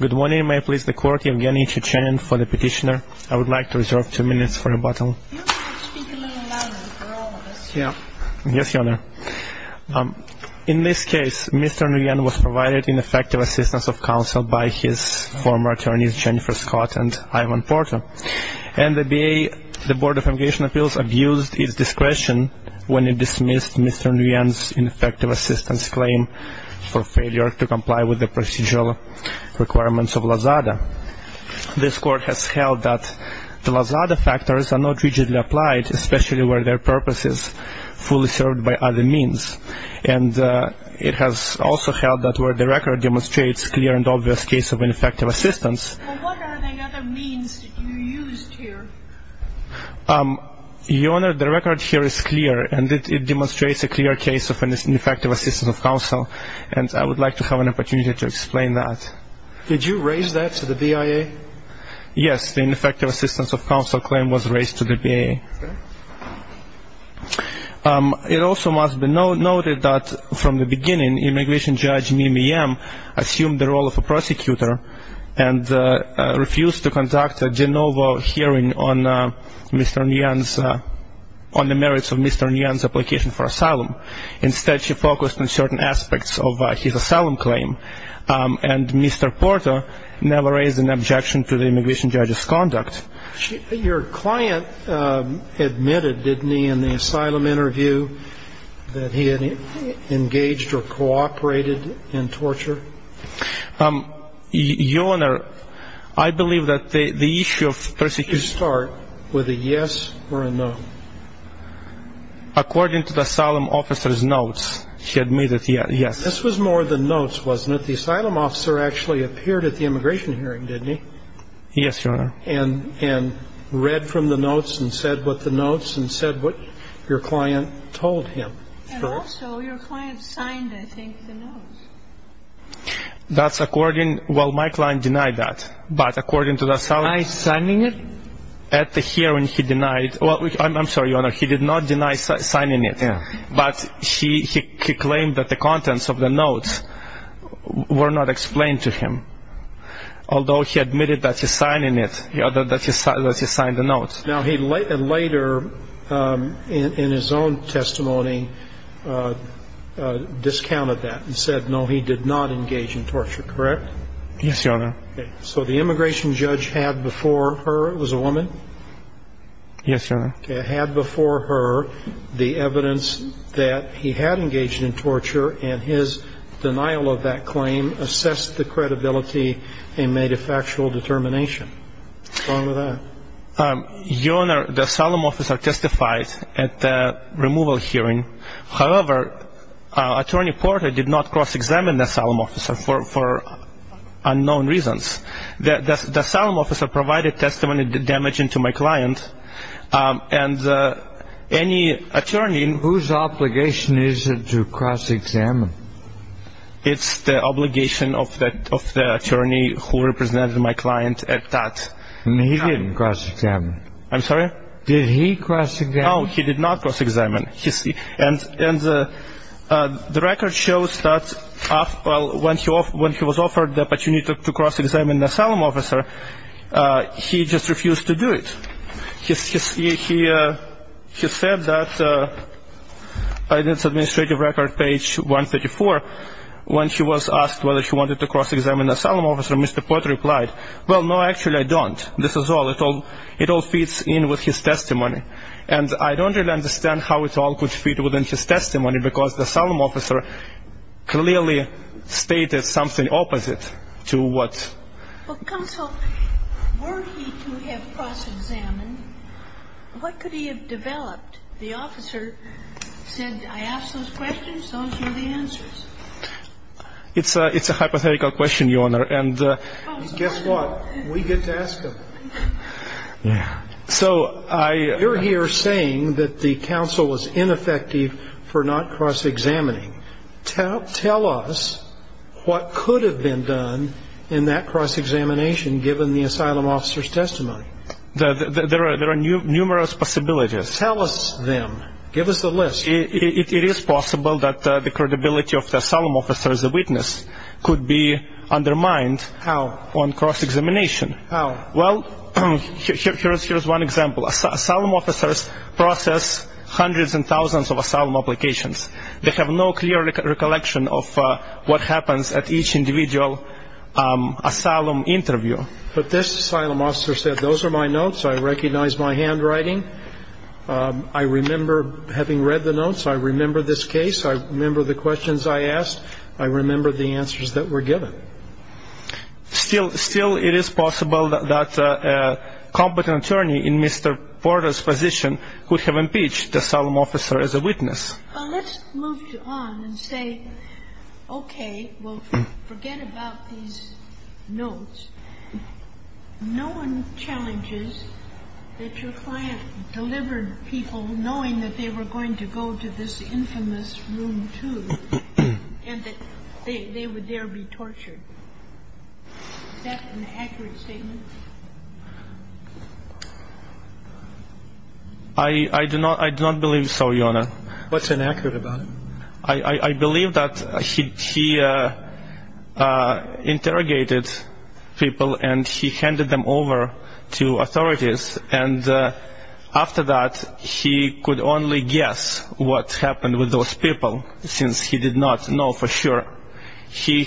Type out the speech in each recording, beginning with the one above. Good morning. May I please the Court, Yvgeny Tchuchenin for the petitioner. I would like to reserve two minutes for rebuttal. Your Honor, could you speak a little louder for all of us here? Yes, Your Honor. In this case, Mr. Nguyen was provided ineffective assistance of counsel by his former attorneys Jennifer Scott and Ivan Porto. And the B.A., the Board of Avigation Appeals abused its discretion when it dismissed Mr. Nguyen's ineffective assistance claim for failure to comply with the procedural requirements of LAZADA. This Court has held that the LAZADA factors are not rigidly applied, especially where their purpose is fully served by other means. And it has also held that where the record demonstrates clear and obvious case of ineffective assistance... Well, what are the other means that you used here? Your Honor, the record here is clear, and it demonstrates a clear case of ineffective assistance of counsel. And I would like to have an opportunity to explain that. Did you raise that to the B.I.A.? Yes, the ineffective assistance of counsel claim was raised to the B.I.A. It also must be noted that from the beginning, immigration judge Mimi M. assumed the role of a prosecutor and refused to conduct a de novo hearing on Mr. Nguyen's... on the merits of Mr. Nguyen's application for asylum. Instead, she focused on certain aspects of his asylum claim. And Mr. Porter never raised an objection to the immigration judge's conduct. Your client admitted, didn't he, in the asylum interview that he had engaged or cooperated in torture? Your Honor, I believe that the issue of persecution... According to the asylum officer's notes, he admitted, yes. This was more the notes, wasn't it? The asylum officer actually appeared at the immigration hearing, didn't he? Yes, Your Honor. And read from the notes and said what the notes and said what your client told him. And also, your client signed, I think, the notes. That's according... Well, my client denied that. But according to the asylum... By signing it? At the hearing, he denied... Well, I'm sorry, Your Honor, he did not deny signing it. But he claimed that the contents of the notes were not explained to him. Although he admitted that he signed it, that he signed the notes. Now he later, in his own testimony, discounted that and said, no, he did not engage in torture, correct? Yes, Your Honor. So the immigration judge had before her... It was a woman? Yes, Your Honor. Had before her the evidence that he had engaged in torture and his denial of that claim assessed the credibility and made a factual determination. What's wrong with that? Your Honor, the asylum officer testified at the removal hearing. However, Attorney Porter did not cross-examine the asylum officer for unknown reasons. The asylum officer provided testimony damaging to my client. And any attorney... Whose obligation is it to cross-examine? It's the obligation of the attorney who represented my client at that time. And he didn't cross-examine? I'm sorry? Did he cross-examine? No, he did not cross-examine. And the record shows that when he was offered the opportunity to cross-examine the asylum officer, he just refused to do it. He said that in his administrative record, page 134, when he was asked whether he wanted to cross-examine the asylum officer, Mr. Porter replied, well, no, actually I don't. This is all. It all fits in with his testimony. And I don't really understand how it all could fit within his testimony, because the asylum officer clearly stated something opposite to what... Well, counsel, were he to have cross-examined, what could he have developed? The officer said, I asked those questions, those were the answers. It's a hypothetical question, Your Honor. And... Guess what? We get to ask them. Yeah. So I... But you're here saying that the counsel was ineffective for not cross-examining. Tell us what could have been done in that cross-examination given the asylum officer's testimony. There are numerous possibilities. Tell us them. Give us the list. It is possible that the credibility of the asylum officer as a witness could be undermined... How? On cross-examination. How? Well, here's one example. Asylum officers process hundreds and thousands of asylum applications. They have no clear recollection of what happens at each individual asylum interview. But this asylum officer said, those are my notes. I recognize my handwriting. I remember having read the notes. I remember this case. I remember the questions I asked. I remember the answers that were given. Still, it is possible that a competent attorney in Mr. Porter's position could have impeached the asylum officer as a witness. Well, let's move on and say, okay, well, forget about these notes. No one challenges that your client delivered people knowing that they were going to go to this infamous room, too, and that they would there be tortured. Is that an accurate statement? I do not believe so, Your Honor. What's inaccurate about it? I believe that he interrogated people and he handed them over to authorities, and after that, he could only guess what happened with those people, since he did not know for sure. He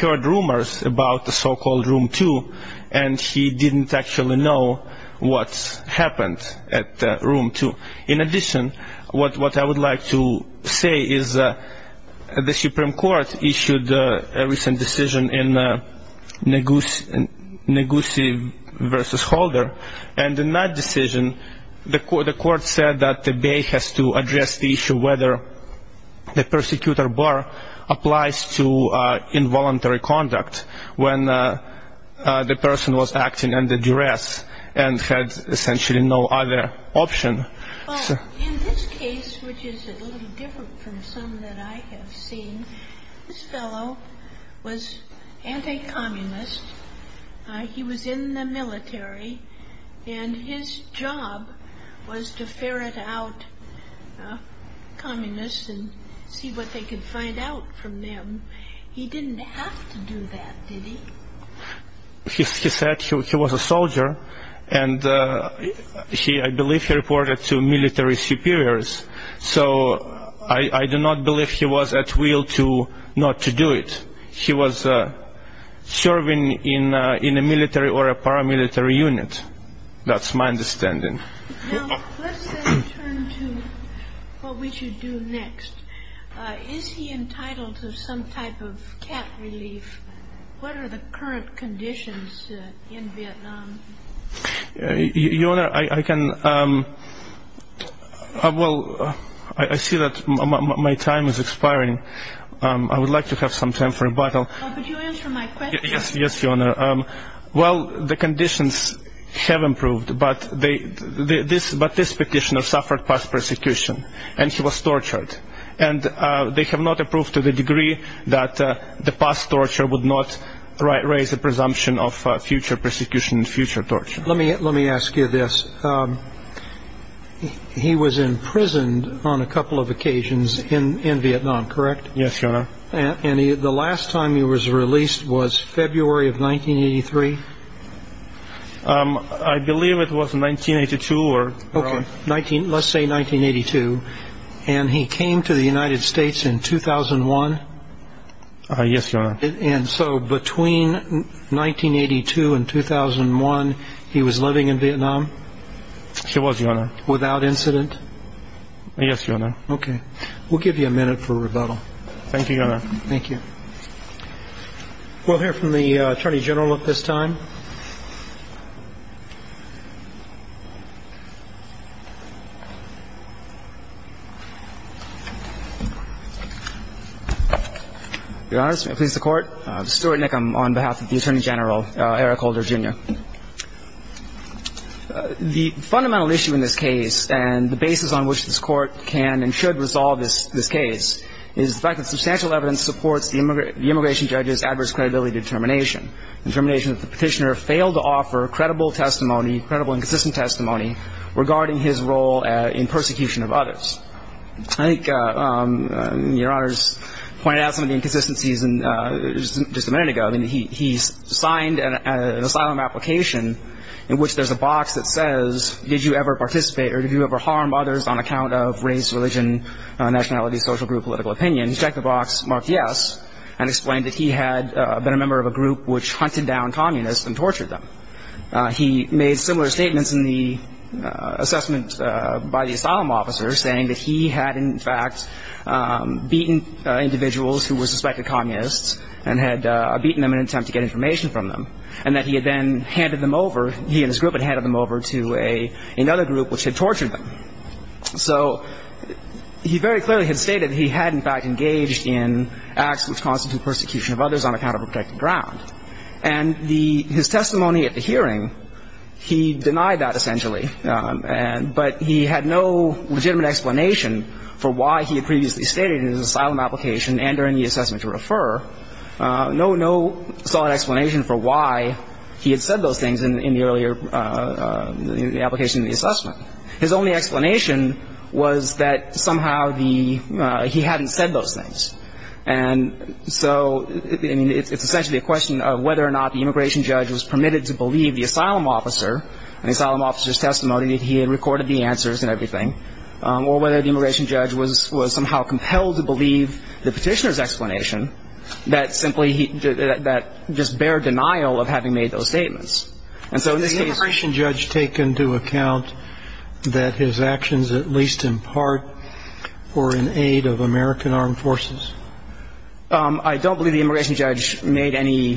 heard rumors about the so-called Room 2, and he didn't actually know what happened at Room 2. In addition, what I would like to say is the Supreme Court issued a recent decision in which the court said that the Bay has to address the issue of whether the persecutor bar applies to involuntary conduct, when the person was acting under duress and had essentially no other option. Well, in this case, which is a little different from some that I have seen, this fellow was anti-communist. He was in the military, and his job was to investigate people who were in the military, and his job was to ferret out communists and see what they could find out from them. He didn't have to do that, did he? He said he was a soldier, and I believe he reported to military superiors, so I do not believe he was at will not to do it. He was serving in a military or a paramilitary unit. That's my understanding. Now, let's then turn to what we should do next. Is he entitled to some type of cap relief? What are the current conditions in Vietnam? Your Honor, I can, well, I see that my time is expiring. I would like to have some time for rebuttal. But you answered my question. Yes, Your Honor. Well, the conditions have improved, but this petitioner suffered past persecution, and he was tortured. And they have not approved to the degree that the past torture would not raise the presumption of future persecution and future torture. Let me ask you this. He was imprisoned on a couple of occasions in Vietnam, correct? Yes, Your Honor. And the last time he was released was February of 1983? I believe it was 1982 or earlier. Okay, let's say 1982. And he came to the United States in 2001? Yes, Your Honor. And so between 1982 and 2001, he was living in Vietnam? He was, Your Honor. Without incident? Yes, Your Honor. Okay. We'll give you a minute for rebuttal. Thank you, Your Honor. Thank you. We'll hear from the Attorney General at this time. Your Honor, this may please the Court. Stuart Nickam on behalf of the Attorney General, Eric Holder, Jr. The fundamental issue in this case and the basis on which this Court can and should resolve this case is the fact that substantial evidence supports the immigration judge's adverse credibility determination. Determination that the petitioner failed to offer credible testimony, credible and consistent testimony regarding his role in persecution of others. I think Your Honor's pointed out some of the inconsistencies just a minute ago. He signed an asylum application in which there's a box that says, Did you ever participate or did you ever harm others on account of race, religion, nationality, social group, political opinion? He checked the box, marked yes, and explained that he had been a member of a group which hunted down communists and tortured them. He made similar statements in the assessment by the asylum officer, saying that he had, in fact, beaten individuals who were suspected communists and had beaten them in an attempt to get information from them. And that he had then handed them over, he and his group had handed them over to another group which had tortured them. So he very clearly had stated he had, in fact, engaged in acts which constitute persecution of others on account of a protected ground. And his testimony at the hearing, he denied that essentially. But he had no legitimate explanation for why he had previously stated in his asylum application and during the assessment to refer, no solid explanation for why he had said those things in the earlier application in the assessment. His only explanation was that somehow he hadn't said those things. And so, I mean, it's essentially a question of whether or not the immigration judge was permitted to believe the asylum officer and the asylum officer's testimony that he had recorded the answers and everything, or whether the immigration judge was somehow compelled to believe the petitioner's explanation that simply he, that just bare denial of having made those statements. And so in this case- Did the immigration judge take into account that his actions, at least in part, were in aid of American armed forces? I don't believe the immigration judge made any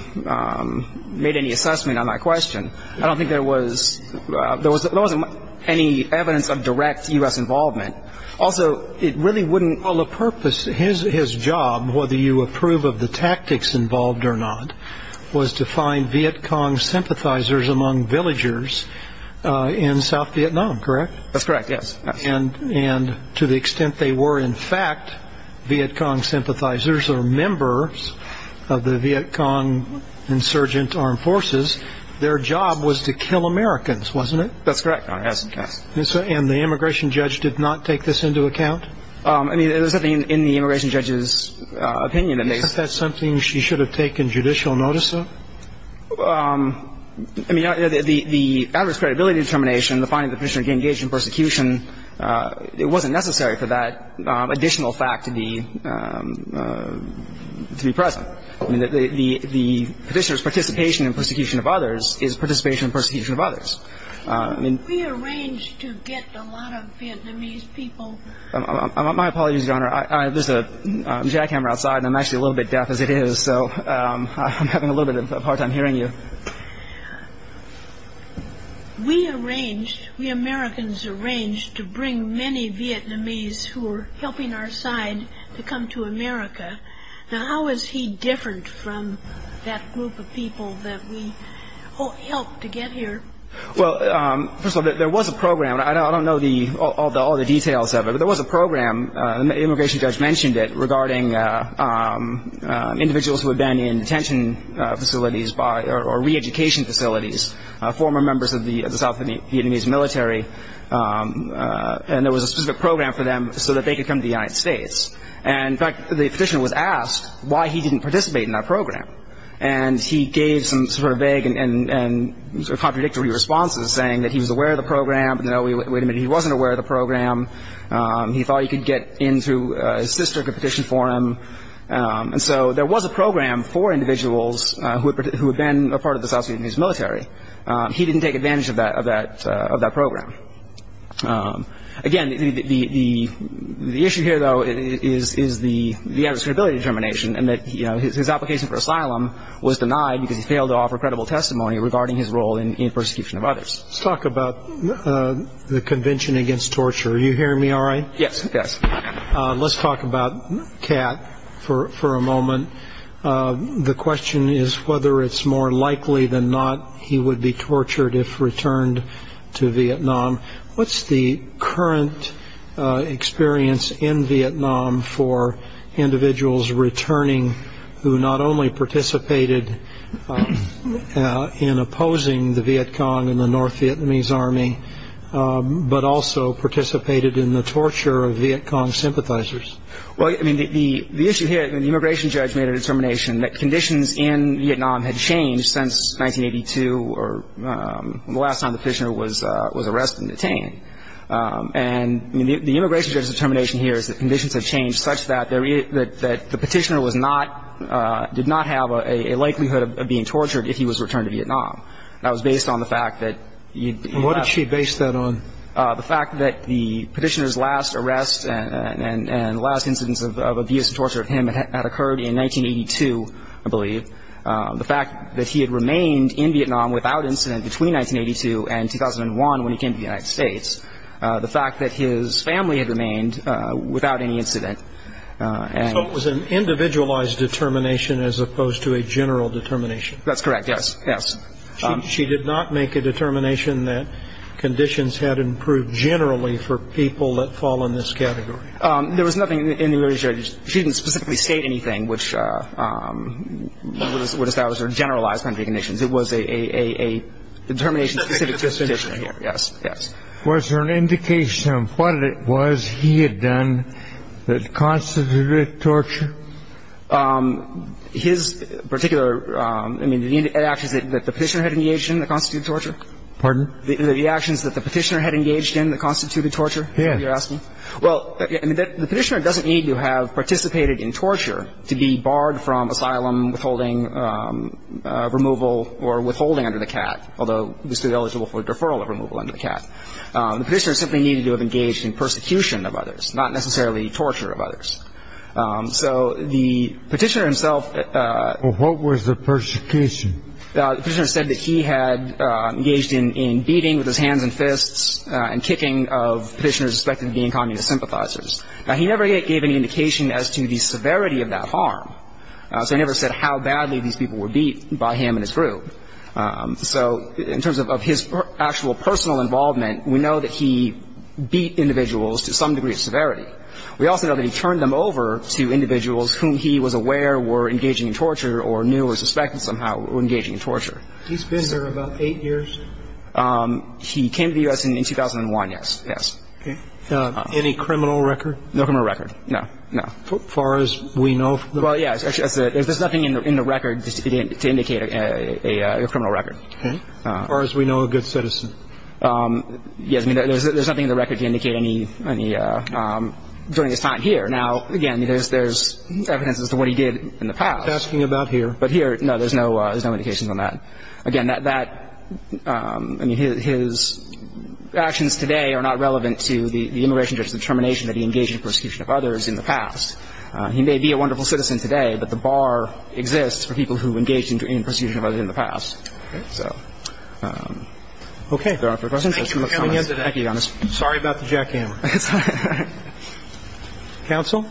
assessment on that question. I don't think there was any evidence of direct U.S. involvement. Also, it really wouldn't- Well, the purpose, his job, whether you approve of the tactics involved or not, was to find Viet Cong sympathizers among villagers in South Vietnam, correct? That's correct, yes. And to the extent they were in fact Viet Cong sympathizers or members of the Viet Cong insurgent armed forces, their job was to kill Americans, wasn't it? That's correct, Your Honor, yes. And the immigration judge did not take this into account? I mean, there was nothing in the immigration judge's opinion that made- Is that something she should have taken judicial notice of? I mean, the adverse credibility determination, the finding that the petitioner engaged in persecution, it wasn't necessary for that additional fact to be present. The petitioner's participation in persecution of others is participation in persecution of others. We arranged to get a lot of Vietnamese people- My apologies, Your Honor. There's a jackhammer outside, and I'm actually a little bit deaf as it is, so I'm having a little bit of a hard time hearing you. We arranged, we Americans arranged, to bring many Vietnamese who were helping our side to come to America. Now, how is he different from that group of people that we helped to get here? Well, first of all, there was a program. I don't know all the details of it, but there was a program, and the immigration judge mentioned it, regarding individuals who had been in detention facilities or reeducation facilities, former members of the South Vietnamese military, and there was a specific program for them so that they could come to the United States. And, in fact, the petitioner was asked why he didn't participate in that program, and he gave some sort of vague and sort of contradictory responses, saying that he was aware of the program, but no, wait a minute, he wasn't aware of the program. He thought he could get in through his sister to petition for him. And so there was a program for individuals who had been a part of the South Vietnamese military. He didn't take advantage of that program. Again, the issue here, though, is the addressability determination and that his application for asylum was denied because he failed to offer credible testimony regarding his role in the persecution of others. Let's talk about the Convention Against Torture. Are you hearing me all right? Yes. Let's talk about Cat for a moment. The question is whether it's more likely than not he would be tortured if returned to Vietnam. What's the current experience in Vietnam for individuals returning who not only participated in opposing the Viet Cong and the North Vietnamese Army, but also participated in the torture of Viet Cong sympathizers? Well, I mean, the issue here, the immigration judge made a determination that conditions in Vietnam had changed since 1982, or the last time the petitioner was arrested and detained. And the immigration judge's determination here is that conditions have changed such that the petitioner was not, did not have a likelihood of being tortured if he was returned to Vietnam. That was based on the fact that you'd be left. What did she base that on? The fact that the petitioner's last arrest and last incidents of abuse and torture of him had occurred in 1982, I believe. The fact that he had remained in Vietnam without incident between 1982 and 2001 when he came to the United States. The fact that his family had remained without any incident. So it was an individualized determination as opposed to a general determination. That's correct, yes. She did not make a determination that conditions had improved generally for people that fall in this category. There was nothing in the immigration judge, she didn't specifically state anything, which would establish her generalized country conditions. It was a determination specific to the petitioner, yes, yes. Was there an indication of what it was he had done that constituted torture? His particular, I mean, the actions that the petitioner had engaged in that constituted torture? Pardon? The actions that the petitioner had engaged in that constituted torture, you're asking? Yes. Well, I mean, the petitioner doesn't need to have participated in torture to be barred from asylum, withholding removal or withholding under the CAT, although he's still eligible for a deferral of removal under the CAT. The petitioner simply needed to have engaged in persecution of others, not necessarily torture of others. So the petitioner himself. Well, what was the persecution? The petitioner said that he had engaged in beating with his hands and fists and kicking of petitioners suspected of being communist sympathizers. Now, he never gave any indication as to the severity of that harm, so he never said how badly these people were beat by him and his group. So in terms of his actual personal involvement, we know that he beat individuals to some degree of severity. We also know that he turned them over to individuals whom he was aware were engaging in torture or knew or suspected somehow were engaging in torture. He's been there about eight years? He came to the U.S. in 2001, yes, yes. Okay. Any criminal record? No criminal record. No, no. As far as we know. Well, yes. There's nothing in the record to indicate a criminal record. Okay. As far as we know, a good citizen. Yes, I mean, there's nothing in the record to indicate any during his time here. Now, again, there's evidence as to what he did in the past. He's asking about here. But here, no, there's no indication on that. Again, his actions today are not relevant to the immigration judge's determination that he engaged in persecution of others in the past. He may be a wonderful citizen today, but the bar exists for people who engaged in persecution of others in the past. Okay. Okay. Thank you for coming in today. Thank you, Your Honor. Sorry about the jackhammer. It's all right. Counsel?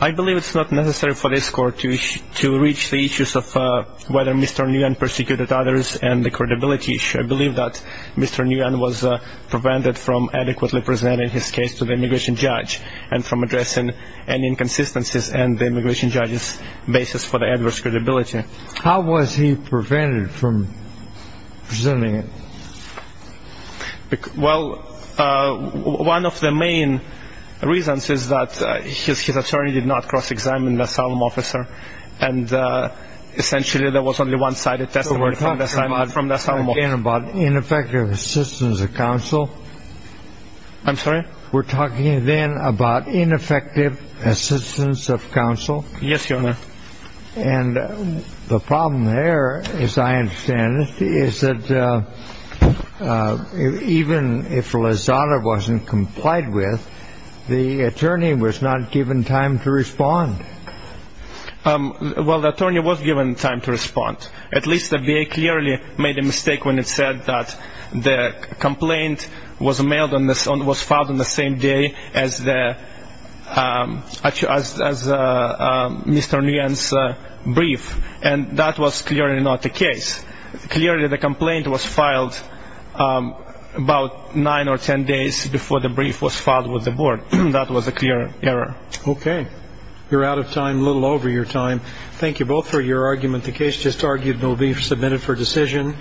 I believe it's not necessary for this Court to reach the issues of whether Mr. Nguyen persecuted others and the credibility issue. I believe that Mr. Nguyen was prevented from adequately presenting his case to the immigration judge and from addressing any inconsistencies in the immigration judge's basis for the adverse credibility. How was he prevented from presenting it? Well, one of the main reasons is that his attorney did not cross-examine the asylum officer, and essentially there was only one-sided testimony from the asylum officer. We're talking again about ineffective assistance of counsel. I'm sorry? We're talking again about ineffective assistance of counsel. Yes, Your Honor. And the problem there, as I understand it, is that even if Lozada wasn't complied with, the attorney was not given time to respond. At least the VA clearly made a mistake when it said that the complaint was filed on the same day as Mr. Nguyen's brief, and that was clearly not the case. Clearly the complaint was filed about nine or ten days before the brief was filed with the board. That was a clear error. Okay. You're out of time, a little over your time. Thank you both for your argument. The case just argued and will be submitted for decision.